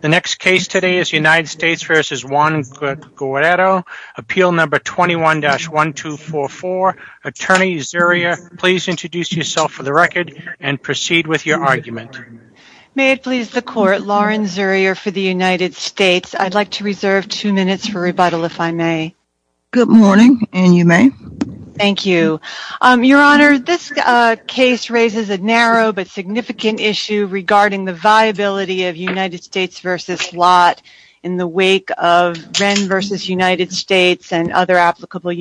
The next case today is United States v. Juan Guerrero, appeal number 21-1244. Attorney Zurier, please introduce yourself for the record and proceed with your argument. May it please the court, Lauren Zurier for the United States. I'd like to reserve two minutes for rebuttal if I may. Good morning, and you may. Thank you. Your Honor, this case raises a narrow but significant issue regarding the in the wake of Wren v. United States and other applicable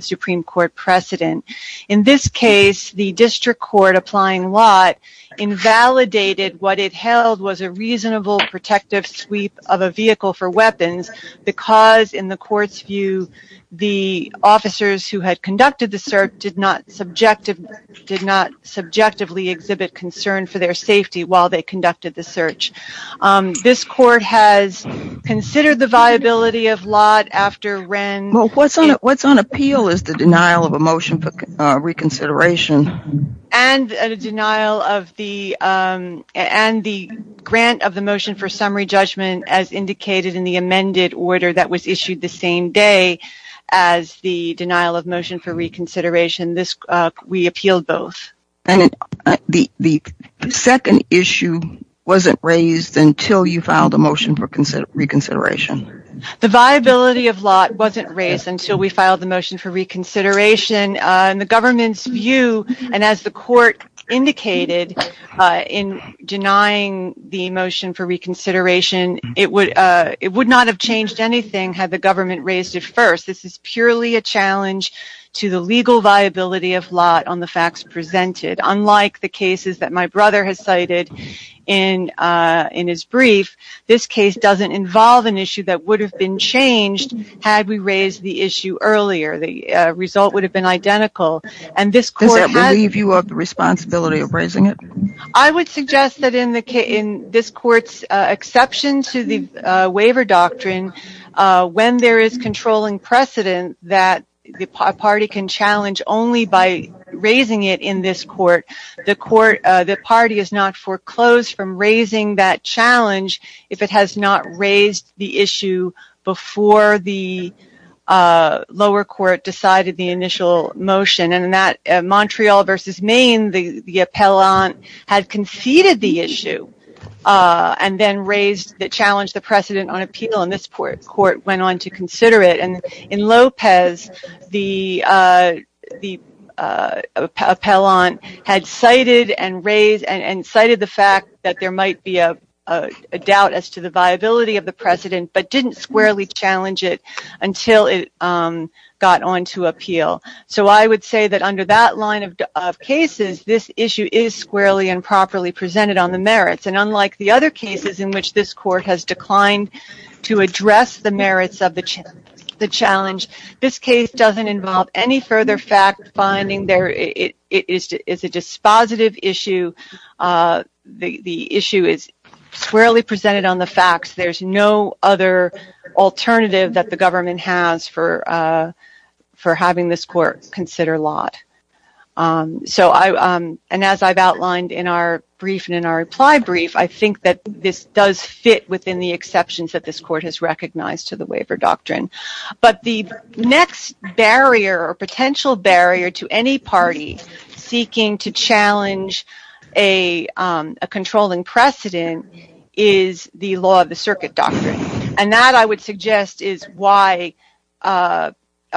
Supreme Court precedent. In this case, the district court applying Lott invalidated what it held was a reasonable protective sweep of a vehicle for weapons because, in the court's view, the officers who had conducted the search did not subjectively exhibit concern for their safety while they conducted the search. This court has considered the viability of Lott after Wren... Well, what's on appeal is the denial of a motion for reconsideration. And a denial of the, and the grant of the motion for summary judgment as indicated in the amended order that was issued the same day as the denial of motion for reconsideration. This, we appealed both. And the second issue wasn't raised until you filed a motion for reconsideration. The viability of Lott wasn't raised until we filed the motion for reconsideration. In the government's view, and as the court indicated in denying the motion for reconsideration, it would not have changed anything had the government raised it first. This is purely a Unlike the cases that my brother has cited in his brief, this case doesn't involve an issue that would have been changed had we raised the issue earlier. The result would have been identical. Does that leave you of the responsibility of raising it? I would suggest that in this court's exception to the waiver doctrine, when there is controlling precedent that the party can challenge only by raising it in this court, the court, the party is not foreclosed from raising that challenge if it has not raised the issue before the lower court decided the initial motion. And that Montreal versus Maine, the appellant had conceded the issue and then raised the challenge, the precedent on appeal in this court went on to consider it. And in Lopez, the appellant had cited and raised and cited the fact that there might be a doubt as to the viability of the precedent, but didn't squarely challenge it until it got on to appeal. So I would say that under that line of cases, this issue is squarely and properly presented on the merits. And unlike the other cases in which this court has declined to address the merits of the challenge, this case doesn't involve any further fact-finding. It is a dispositive issue. The issue is squarely presented on the facts. There's no other alternative that the government has for having this court consider lot. And as I've outlined in our brief and in our reply brief, I think that this does fit within the exceptions that this court has recognized to the waiver doctrine. But the next barrier or potential barrier to any party seeking to challenge a controlling precedent is the law of the circuit doctrine. And that I would suggest is why a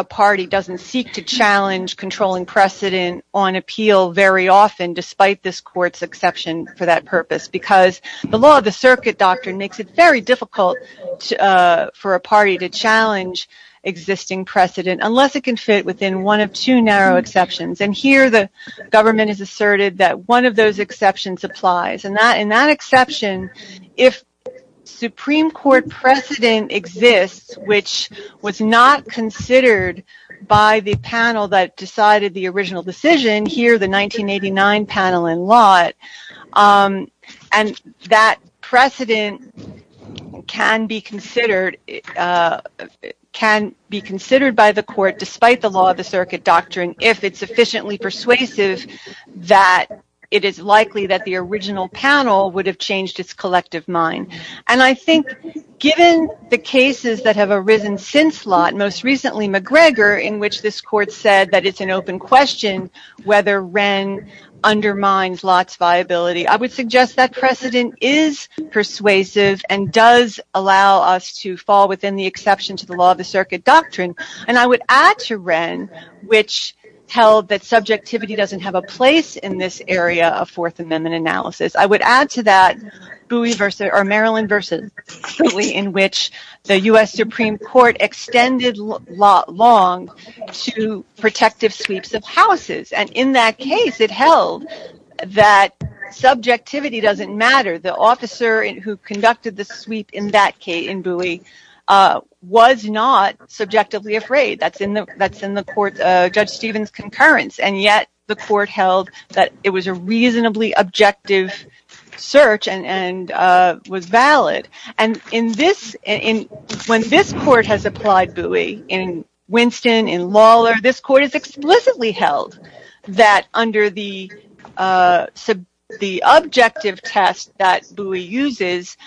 party doesn't seek to challenge controlling precedent on appeal very often, despite this court's exception for that purpose. Because the law of the circuit doctrine makes it very difficult for a party to challenge existing precedent, unless it can fit within one of two narrow exceptions. And here the government has asserted that one of those exceptions applies. And that exception, if Supreme Court precedent exists, which was not considered by the panel that decided the original decision, here, the 1989 panel in Lott, and that precedent can be considered by the court, despite the law of the circuit doctrine, if it's sufficiently persuasive that it is likely that the original panel would have changed its collective mind. And I think, given the cases that have arisen since Lott, most recently McGregor, in which this court said that it's an open question whether Wren undermines Lott's viability, I would suggest that precedent is persuasive and does allow us to fall within the exception to the law of the circuit doctrine. And I would add to Wren, which held that subjectivity doesn't have a place in this area of Fourth Amendment analysis, I would add to that Bowie versus, or to protective sweeps of houses. And in that case, it held that subjectivity doesn't matter. The officer who conducted the sweep in Bowie was not subjectively afraid. That's in the court, Judge Stevens' concurrence. And yet the court held that it was a reasonably objective search and was valid. And when this court has applied Bowie, in Winston, in Lawlor, this court has explicitly held that under the objective test that Bowie uses,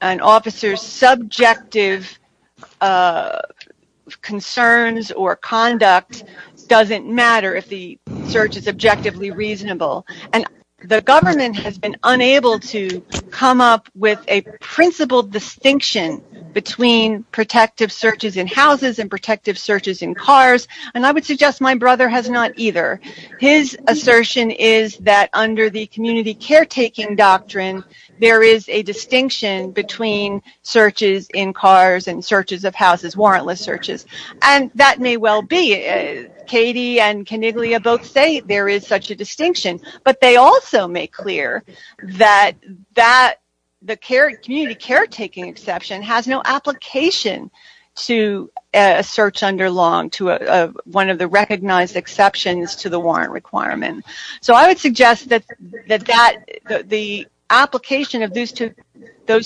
an officer's subjective concerns or conduct doesn't matter if the search is objectively reasonable. And the government has been unable to come up with a principled distinction between protective searches in houses and protective searches in cars. And I would suggest my brother has not either. His assertion is that under the community caretaking doctrine, there is a distinction between searches in cars and searches of houses, warrantless searches. And that may well be. Katie and Coniglia both say there is such a distinction. But they also make clear that the community caretaking exception has no application to a search under law, to one of the recognized exceptions to the warrant requirement. So I would suggest that the application of those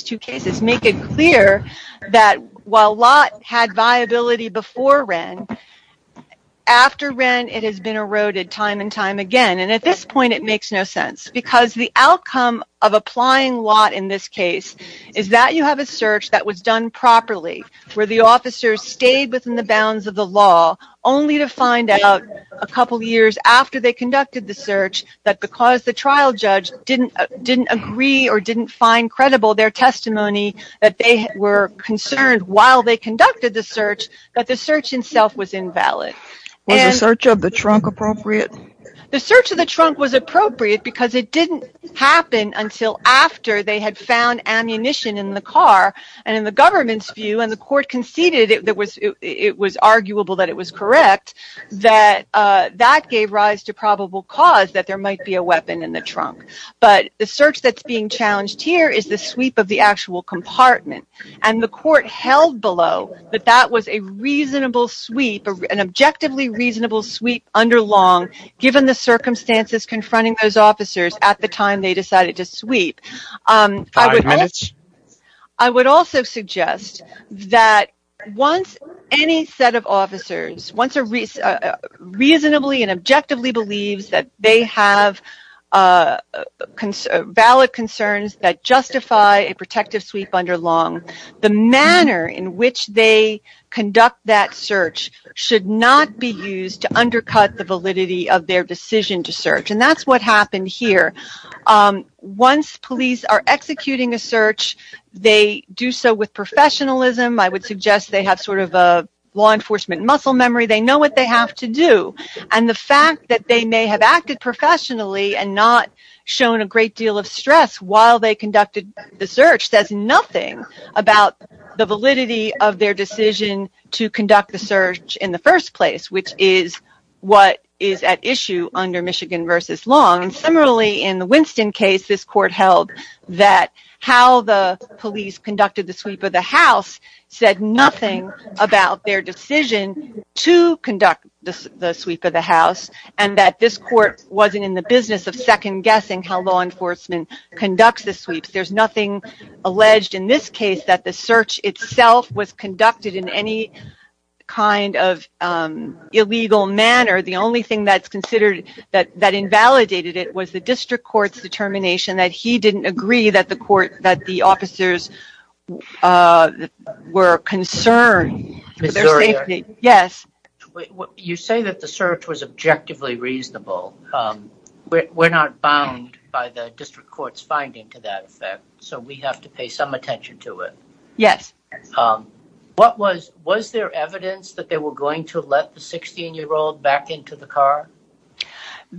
two cases make it clear that while Lott had viability before Wren, after Wren, it has been eroded time and time again. And at this point, it makes no sense. Because the outcome of applying Lott in this case is that you have a search that was done properly, where the officers stayed within the bounds of the law, only to find out a couple years after they conducted the search that because the trial judge didn't agree or didn't find credible their testimony that they were concerned while they conducted the search, that the search itself was invalid. Was the search of the trunk appropriate? The search of the trunk was appropriate because it didn't happen until after they had found ammunition in the car, and in the government's view, and the court conceded it was arguable that it was correct, that that gave rise to probable cause that there might be a weapon in the trunk. But the search that's being challenged here is the sweep of the actual compartment. And the court held below that that was a reasonable sweep, an objectively reasonable sweep under Long, given the circumstances confronting those officers at the time they decided to sweep. I would also suggest that once any set of officers reasonably and objectively believes that they have valid concerns that justify a protective sweep under Long, the manner in which they conduct that search should not be used to undercut the validity of their decision to search. And that's what happened here. Once police are executing a search, they do so with professionalism. I would suggest they have sort of a law enforcement muscle memory. They know what they have to do. And the fact that they may have acted professionally and not shown a great deal of stress while they conducted the search says nothing about the validity of their decision to conduct the search in the first place, which is what is at issue under Michigan versus Long. Similarly, in the Winston case, this court held that how the police conducted the sweep of the house and that this court wasn't in the business of second guessing how law enforcement conducts the sweeps. There's nothing alleged in this case that the search itself was conducted in any kind of illegal manner. The only thing that's considered that invalidated it was the district court's determination that he didn't agree that the officers were concerned for their safety. Yes. You say that the search was objectively reasonable. We're not bound by the district court's finding to that effect, so we have to pay some attention to it. Yes. Was there evidence that they were going to let the 16-year-old back into the car? At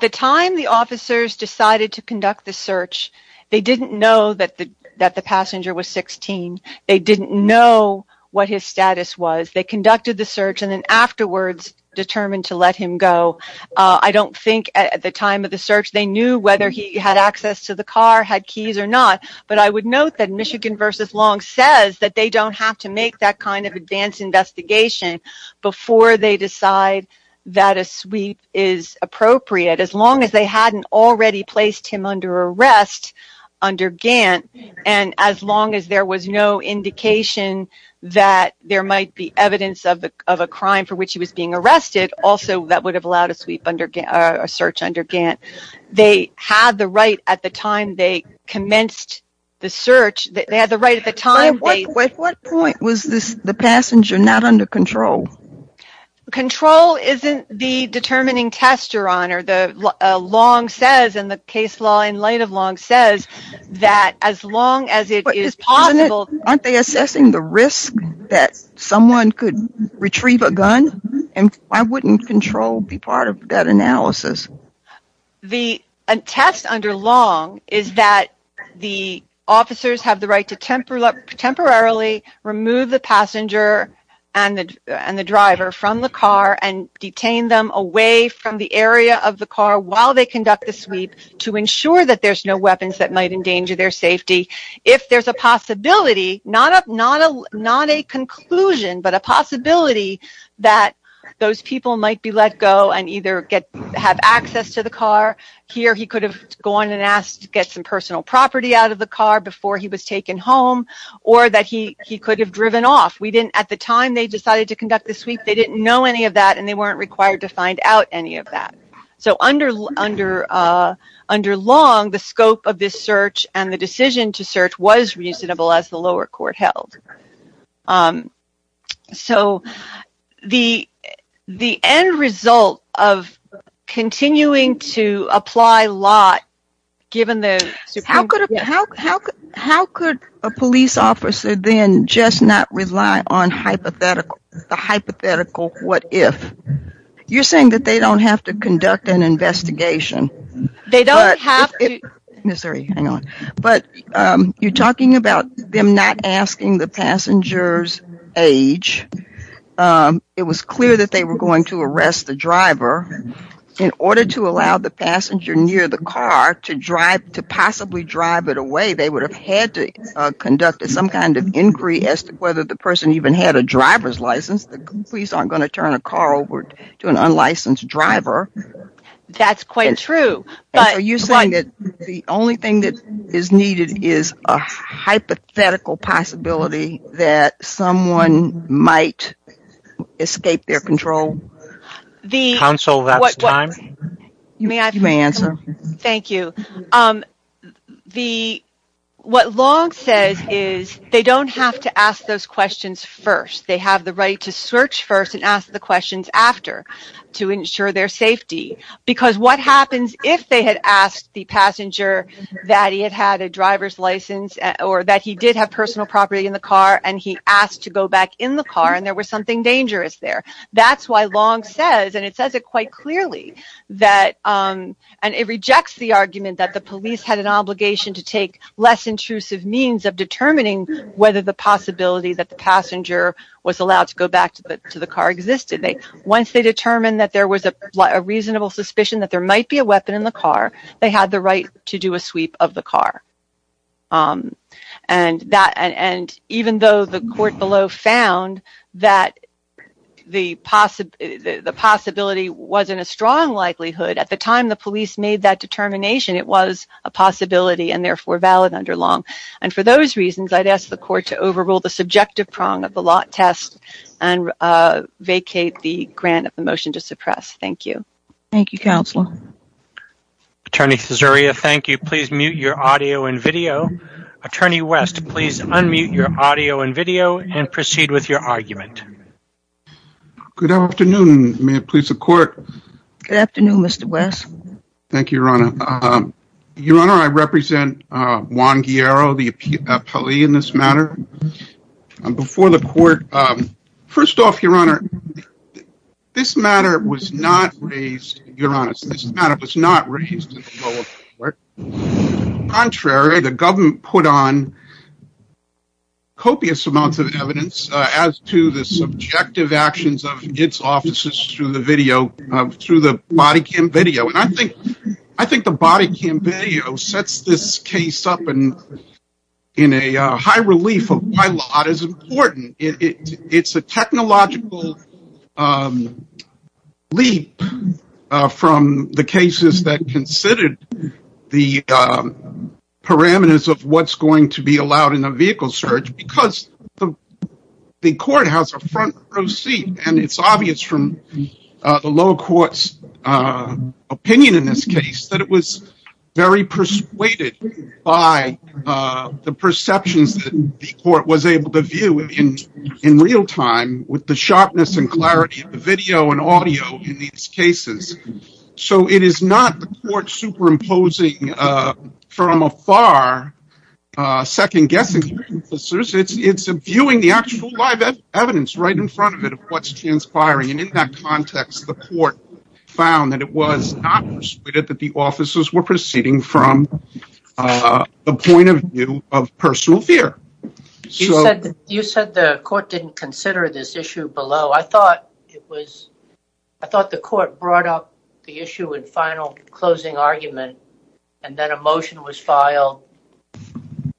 the time, the officers decided to conduct the search. They didn't know that the passenger was 16. They didn't know what his status was. They conducted the search and then afterwards determined to let him go. I don't think at the time of the search they knew whether he had access to the car, had keys or not, but I would note that Michigan versus Long says that they don't have to make that kind of advanced investigation before they decide that a sweep is appropriate, as long as they hadn't already placed him under arrest under Gantt and as long as there was no indication that there might be evidence of a crime for which he was being arrested, also that would have allowed a search under Gantt. They had the right at the time they commenced the search. They had the right at the time. At what point was the passenger not under control? Control isn't the determining test, Your Honor. Long says in the case law in light of Long says that as long as it is possible... Aren't they assessing the risk that someone could retrieve a gun? Why wouldn't control be part of that analysis? The test under Long is that the officers have the right to temporarily remove the passenger and the driver from the car and detain them away from the area of the car while they conduct the sweep to ensure that there's no weapons that might endanger their safety. If there's a possibility, not a conclusion, but a possibility that those people might be let go and either have access to the car. Here he could have gone and asked to get some personal property out of the car before he was taken home or that he could have driven off. At the time they decided to conduct the sweep, they didn't know any of that and they weren't required to find out any of that. So under Long, the scope of this search and the decision to search was reasonable as the lower court held. So the end result of continuing to apply law given the... How could a police officer then just not rely on hypothetical, the hypothetical what if? You're saying that they don't have to conduct an investigation. They don't have to... Hang on, but you're talking about them not asking the passenger's age. It was clear that they were going to arrest the driver. In order to allow the passenger near the car to drive, to possibly drive it away, they would have had to conduct some kind of inquiry as to whether the person even had a driver's license. The police aren't going to turn a car over to an unlicensed driver. That's quite true, but... So you're saying that the only thing that is needed is a hypothetical possibility that someone might escape their control? Counsel, that's time. You may answer. Thank you. What Long says is they don't have to ask those questions first. They have the right to search first and ask the questions after to ensure their safety. Because what happens if they had asked the passenger that he had had a driver's license or that he did have personal property in the car and he asked to go back in the car and there was something dangerous there? That's why Long says, and it says it quite clearly that, and it rejects the argument that the police had an obligation to take less intrusive means of determining whether the possibility that the passenger was allowed to go back to the car existed. Once they determined that there was a reasonable suspicion that there might be a weapon in the car, they had the right to do a sweep of the car. And even though the court below found that the possibility wasn't a strong likelihood, at the time the police made that determination, it was a possibility and therefore valid under Long. And for those reasons, I'd ask the court to overrule the subjective prong of the lot test and vacate the grant of the motion to suppress. Thank you. Thank you, Counselor. Attorney Caesarea, thank you. Please mute your audio and video. Attorney West, please unmute your audio and video and proceed with your argument. Good afternoon. May it please the court. Good afternoon, Mr. West. Thank you, Your Honor. Your Honor, I represent Juan Guillero, the appellee in this matter. Before the court, first off, Your Honor, this matter was not raised, Your Honor, this matter was not raised in the lower court. Contrary, the government put on copious amounts of evidence as to the subjective prong. The fact that the body cam video sets this case up in a high relief of my lot is important. It's a technological leap from the cases that considered the parameters of what's going to be allowed in a vehicle search because the court has a front row seat. And it's obvious from the lower court's opinion in this case that it was very persuaded by the perceptions that the court was able to view in real time with the sharpness and clarity of the video and audio in these cases. So it is not the court superimposing from afar second-guessing. It's viewing the actual live evidence right in front of it of what's transpiring. And in that context, the court found that it was not persuaded that the officers were proceeding from the point of view of personal fear. You said the court didn't consider this issue below. I thought the court brought up the issue in final closing argument and then a motion was filed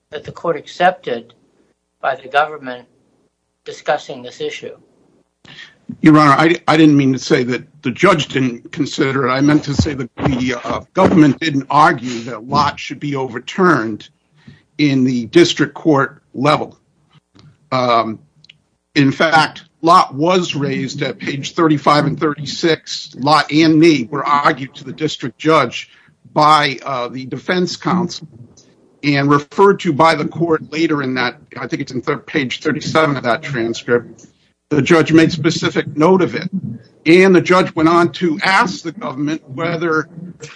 that the court accepted by the government discussing this issue. Your Honor, I didn't mean to say that the judge didn't consider it. I meant to say that the government didn't argue that Lott should be overturned in the district court level. In fact, Lott was raised at page 35 and 36. Lott and me were argued to the district judge by the defense counsel and referred to by the court later in that, I think it's in third page 37 of that transcript. The judge made specific note of it and the judge went on to ask the government whether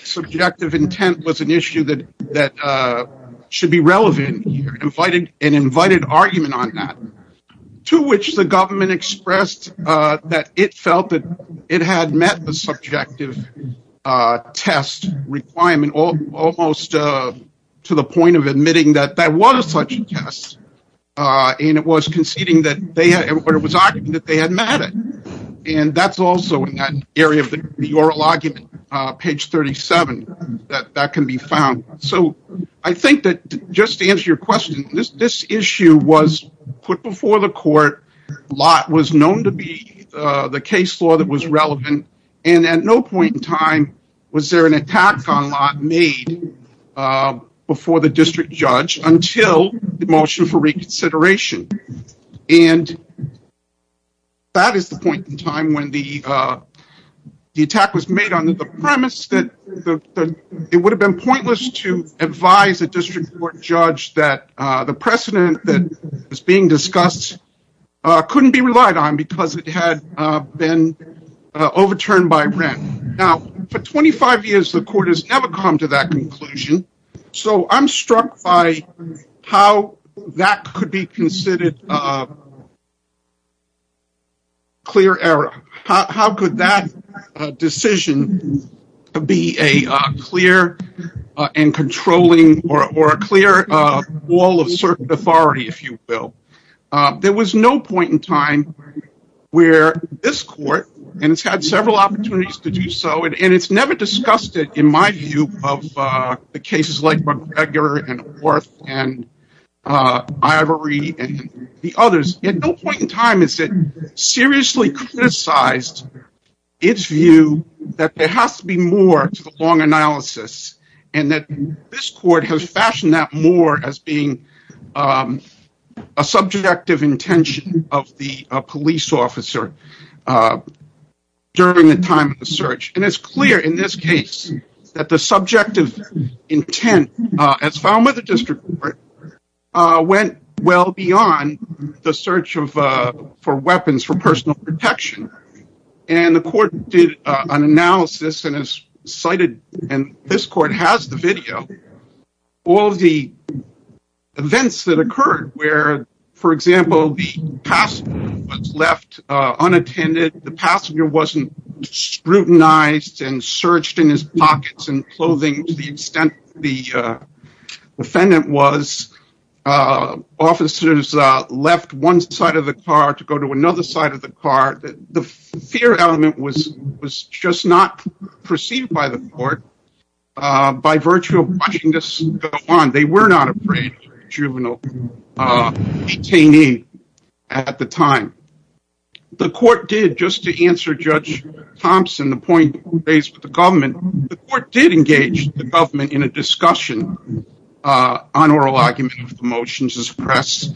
subjective intent was an issue that should be relevant. He invited an argument on that to which the government expressed that it felt that it had met the subjective test requirement almost to the point of admitting that that was such a test. And it was conceding that they had, or it was arguing that they had met it. And that's also in that area of the oral argument, page 37, that that can be found. So I think that just to answer your question, this issue was put before the court. Lott was known to be the case law that was relevant. And at no point in time was there an attack on Lott made before the district judge until the motion for reconsideration. And that is the point in time when the attack was made on the premise that it would have been pointless to advise a district court judge that the precedent that was being discussed couldn't be relied on because it had been overturned by rent. Now, for 25 years, the court has never come to that conclusion. So I'm struck by how that could be to be a clear and controlling or a clear wall of certain authority, if you will. There was no point in time where this court, and it's had several opportunities to do so, and it's never discussed it in my view of the cases like McGregor and Worth and and the others. At no point in time has it seriously criticized its view that there has to be more to the long analysis and that this court has fashioned that more as being a subjective intention of the police officer during the time of the search. And it's clear in this case that the subjective intent, as found with the district court, went well beyond the search for weapons for personal protection. And the court did an analysis and has cited, and this court has the video, all the events that occurred where, for example, the passenger was scrutinized and searched in his pockets and clothing to the extent the defendant was. Officers left one side of the car to go to another side of the car. The fear element was just not perceived by the court by virtue of watching this go on. They point raised with the government. The court did engage the government in a discussion on oral arguments of the motions of the press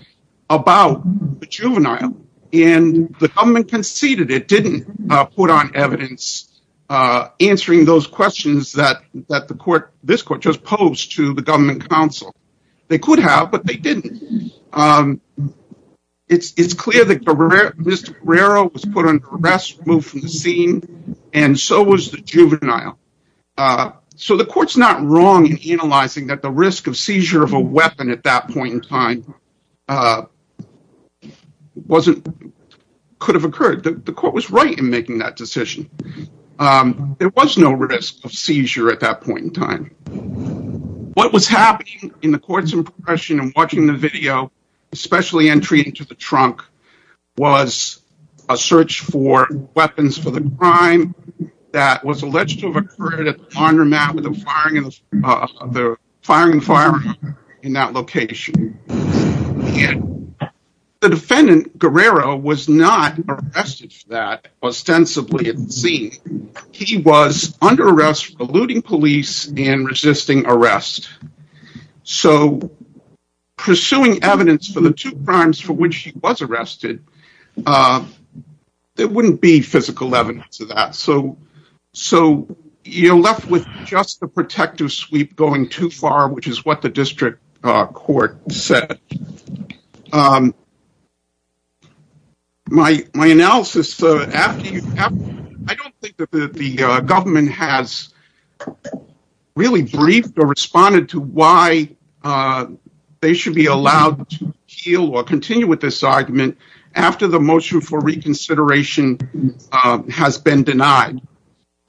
about the juvenile, and the government conceded it didn't put on evidence answering those questions that this court just posed to the government counsel. They could have, but they didn't. It's clear that Mr. Guerrero was put the scene and so was the juvenile. So the court's not wrong in analyzing that the risk of seizure of a weapon at that point in time could have occurred. The court was right in making that decision. There was no risk of seizure at that point in time. What was happening in the court's impression in watching the video, especially entry into the trunk, was a search for weapons for the crime that was alleged to have occurred at the armor mat with the firing and firing in that location. The defendant, Guerrero, was not arrested for that ostensibly at the scene. He was under arrest for eluding police and resisting arrest. So pursuing evidence for the two crimes for which he was arrested, there wouldn't be physical evidence of that. So you're left with just the protective sweep going too far, which is what the district court said. My analysis, I don't think that the government has really briefed or responded to why they should be allowed to heal or continue with this argument after the motion for reconsideration has been denied.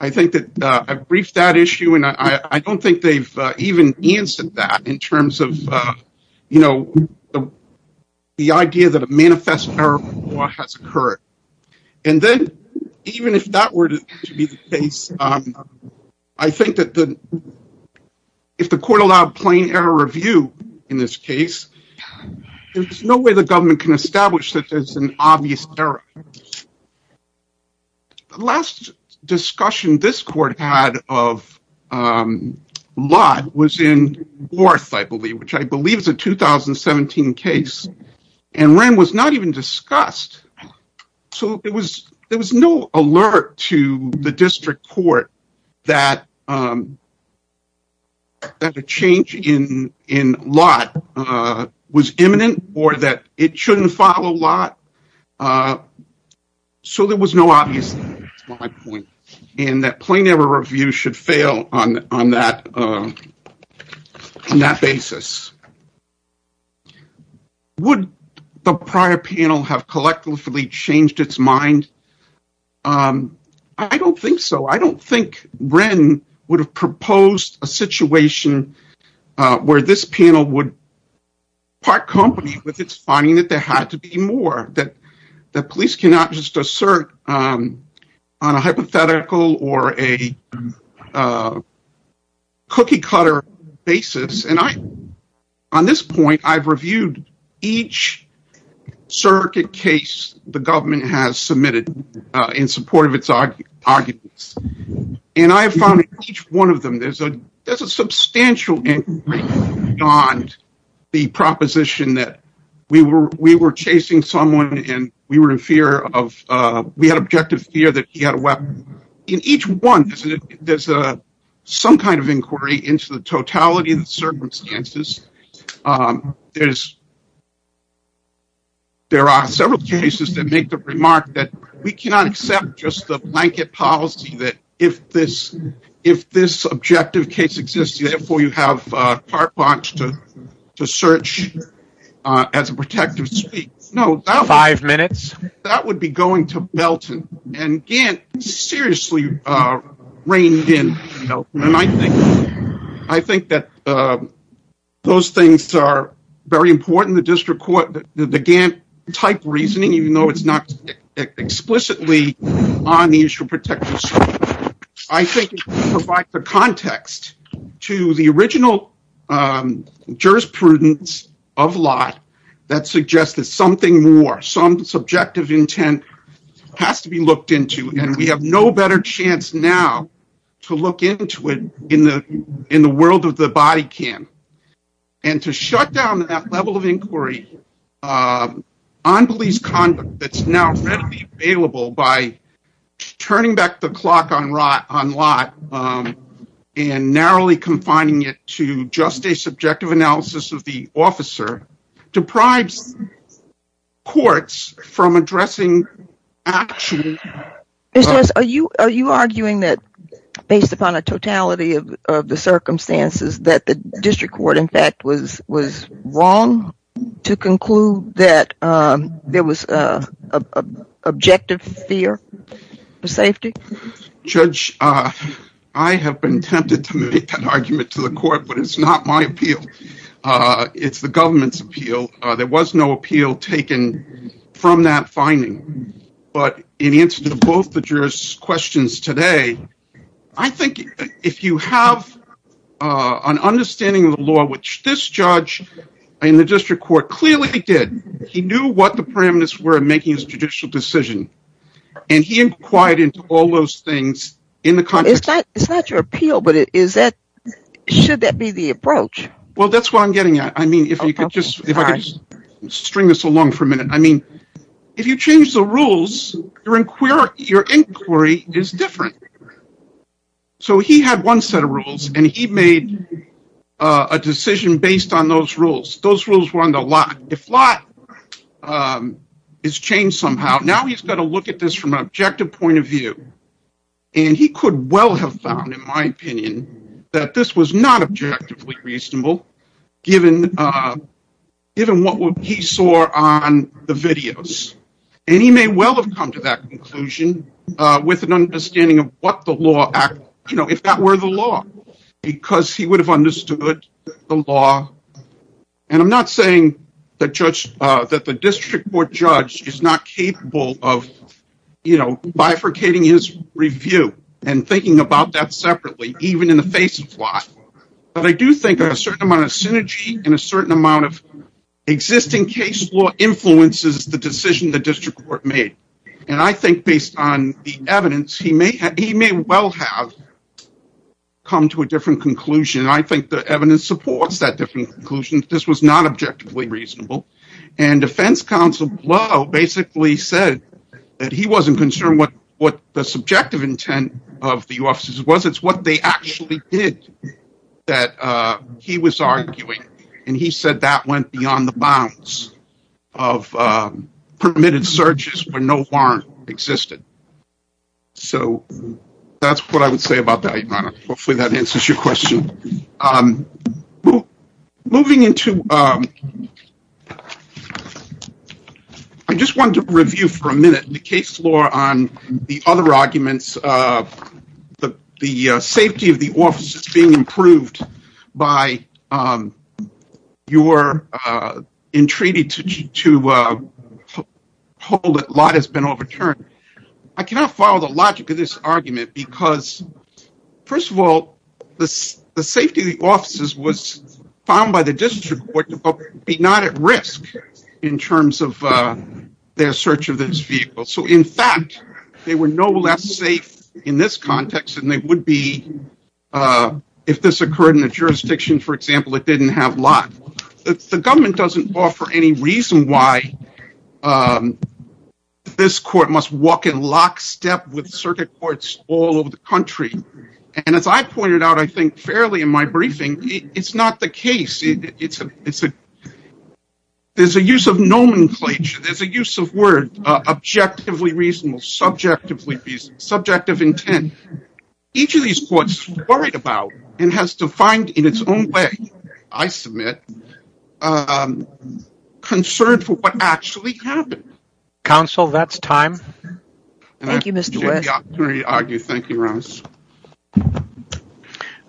I think that I've briefed that issue, and I don't think they've even answered that in terms of the idea that a manifest error has occurred. And then even if that were to be the case, I think that if the court allowed plain error review in this case, there's no way the government can establish that there's an obvious error. The last discussion this court had of Lott was in Warth, I believe, which I believe is a 2017 case, and Wren was not even discussed. So there was no alert to the district court that a change in Lott was imminent or that it shouldn't follow Lott. So there was no obvious error, that's my point, and that plain error review should fail on that basis. Would the prior panel have collectively changed its mind? I don't think so. I don't think Wren would have proposed a situation where this panel would part company with its finding that there had to be more, that police cannot just assert on a hypothetical or a cookie-cutter basis. And on this point, I've reviewed each surrogate case the government has submitted in support of its arguments, and I have found in each one of them there's a substantial inquiry beyond the proposition that we were chasing someone and we were in fear of, we had objective fear that he had a weapon. In each one, there's some kind of inquiry into the totality of the circumstances. There are several cases that make the remark that we cannot accept just the blanket policy that if this objective case exists, therefore you have part launch to search as a protective speech. No, that would be going to Belton, and Gant seriously reined in Belton. And I think that those things are very important. The district court, the Gant-type reasoning, even though it's not explicitly on the issue of protective speech, I think it provides the context to the original jurisprudence of lot that suggests that something more, some subjective intent has to be looked in. And to shut down that level of inquiry on police conduct that's now readily available by turning back the clock on lot and narrowly confining it to just a subjective analysis of the officer deprives courts from addressing action. Mr. West, are you arguing that based upon a totality of the circumstances that the district court in fact was wrong to conclude that there was objective fear for safety? Judge, I have been tempted to make that argument to the court, but it's not my appeal. It's the government's appeal. There was no appeal taken from that finding. But in answer to both the jurors' questions today, I think if you have an understanding of the law, which this judge in the district court clearly did, he knew what the parameters were in making his judicial decision, and he inquired into all those things. It's not your appeal, but is that, should that be the approach? Well, that's what I'm getting at. I mean, if you could just string this along for a minute. I mean, if you change the rules, your inquiry is different. So he had one set of rules, and he made a decision based on those rules. Those rules were on the lot. If lot is changed somehow, now he's got to look at this from an objective point of view. And he could well have found, in my opinion, that this was not objectively reasonable, given what he saw on the videos. And he may well have come to that conclusion with an understanding of what the law, if that were the law, because he would have understood the law. And I'm not saying that the district court judge is not capable of bifurcating his review and thinking about that separately, even in the face of lot. But I do think a certain amount of synergy and a certain amount of existing case law influences the decision the district court made. And I think based on the evidence, he may well have come to a different conclusion. I think the evidence supports that different conclusion. This was not objectively reasonable. And defense counsel Blow basically said that he wasn't concerned what the subjective intent of the U.S. was. It's what they actually did that he was arguing. And he said that went beyond the bounds of permitted searches where no warrant existed. So that's what I would say about that, Your Honor. Hopefully that answers your question. Moving into... I just wanted to review for a minute the case law on the other arguments. The safety of the office is being improved by your entreaty to hold that a lot has been overturned. I cannot follow the logic of this argument because first of all, the safety of the officers was found by the district court to be not at risk in terms of their search of this vehicle. So in fact, they were no less safe in this context than they would be if this occurred in a jurisdiction, for example, that didn't have a lot. The government doesn't offer any reason why this court must walk in with circuit courts all over the country. And as I pointed out, I think fairly in my briefing, it's not the case. There's a use of nomenclature. There's a use of word, objectively reasonable, subjectively reasonable, subjective intent. Each of these courts worried about and has defined in its own way, I submit, concern for what actually happened. Counsel, that's time. Thank you, Mr. West.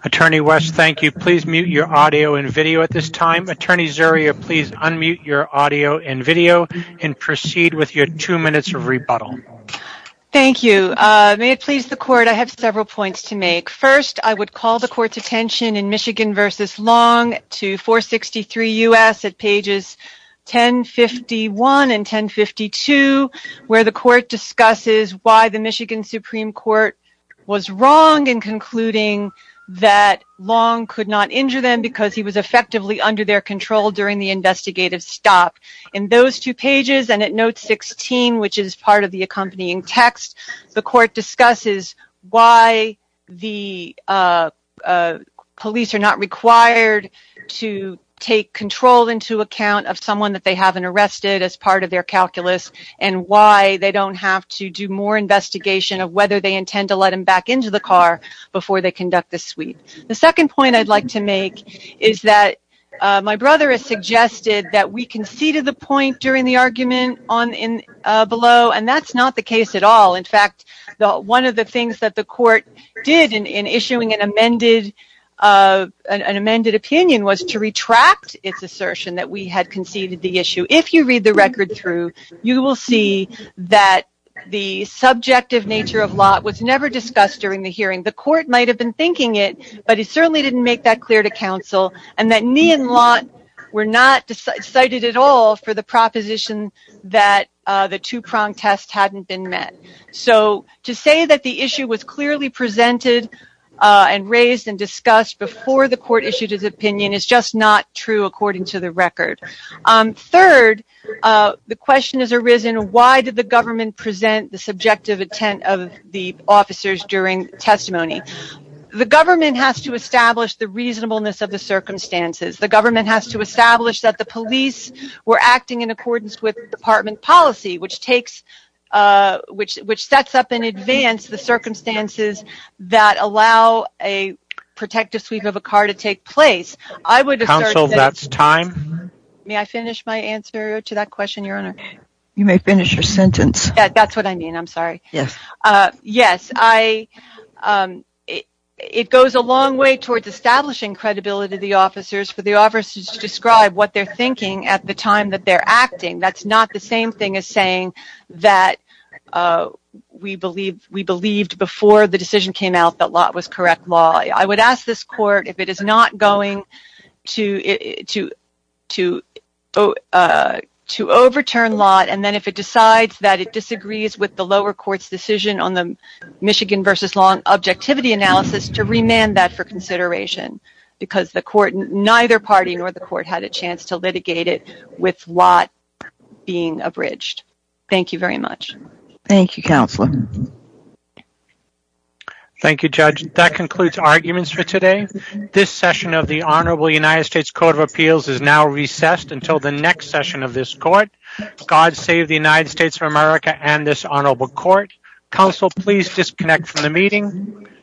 Attorney West, thank you. Please mute your audio and video at this time. Attorney Zuria, please unmute your audio and video and proceed with your two minutes of rebuttal. Thank you. May it please the court, I have several points to make. First, I would call the court's attention in Michigan v. Long to 463 U.S. at pages 1051 and 1052, where the court discusses why the Michigan Supreme Court was wrong in concluding that Long could not injure them because he was effectively under their control during the investigative stop. In those two pages and at note 16, which is part of the accompanying text, the court discusses why the police are not required to take control into account of someone that they haven't arrested as part of their calculus and why they don't have to do more investigation of whether they intend to let him back into the car before they conduct the sweep. The second point I'd like to make is that my brother has suggested that we conceded the point during the argument below, and that's not the case at all. In fact, one of the things that the court did in issuing an amended opinion was to retract its assertion that we had conceded the issue. If you read the record through, you will see that the subjective nature of Lott was never discussed during the hearing. The court might have been thinking it, but he certainly didn't make that clear to counsel, and that me and Lott were not cited at all for the proposition that the two-pronged test hadn't been met. So to say that the issue was clearly presented and raised and discussed before the court issued his opinion is just not true according to the record. Third, the question has arisen why did the government present the subjective intent of the officers during testimony? The government has to establish the reasonableness of the circumstances. The government has to establish that the police were acting in accordance with department policy, which sets up in advance the circumstances that allow a protective sweep of a car to take place. Counsel, that's time. May I finish my sentence? That's what I mean, I'm sorry. Yes, it goes a long way towards establishing credibility of the officers for the officers to describe what they're thinking at the time that they're acting. That's not the same thing as saying that we believed before the decision came out that Lott was correct law. I would ask this court if it is not going to overturn Lott and then if it decides that it disagrees with the lower court's decision on the Michigan versus Long objectivity analysis to remand that for consideration because the court, neither party nor the court, had a chance to litigate it with Lott being abridged. Thank you very much. Thank you, Counselor. Thank you, Judge. That concludes arguments for today. This session of the Honorable United States Court of Appeals is now recessed until the next session of this court. God save the United States of America and this Honorable Court. Counsel, please disconnect from the meeting.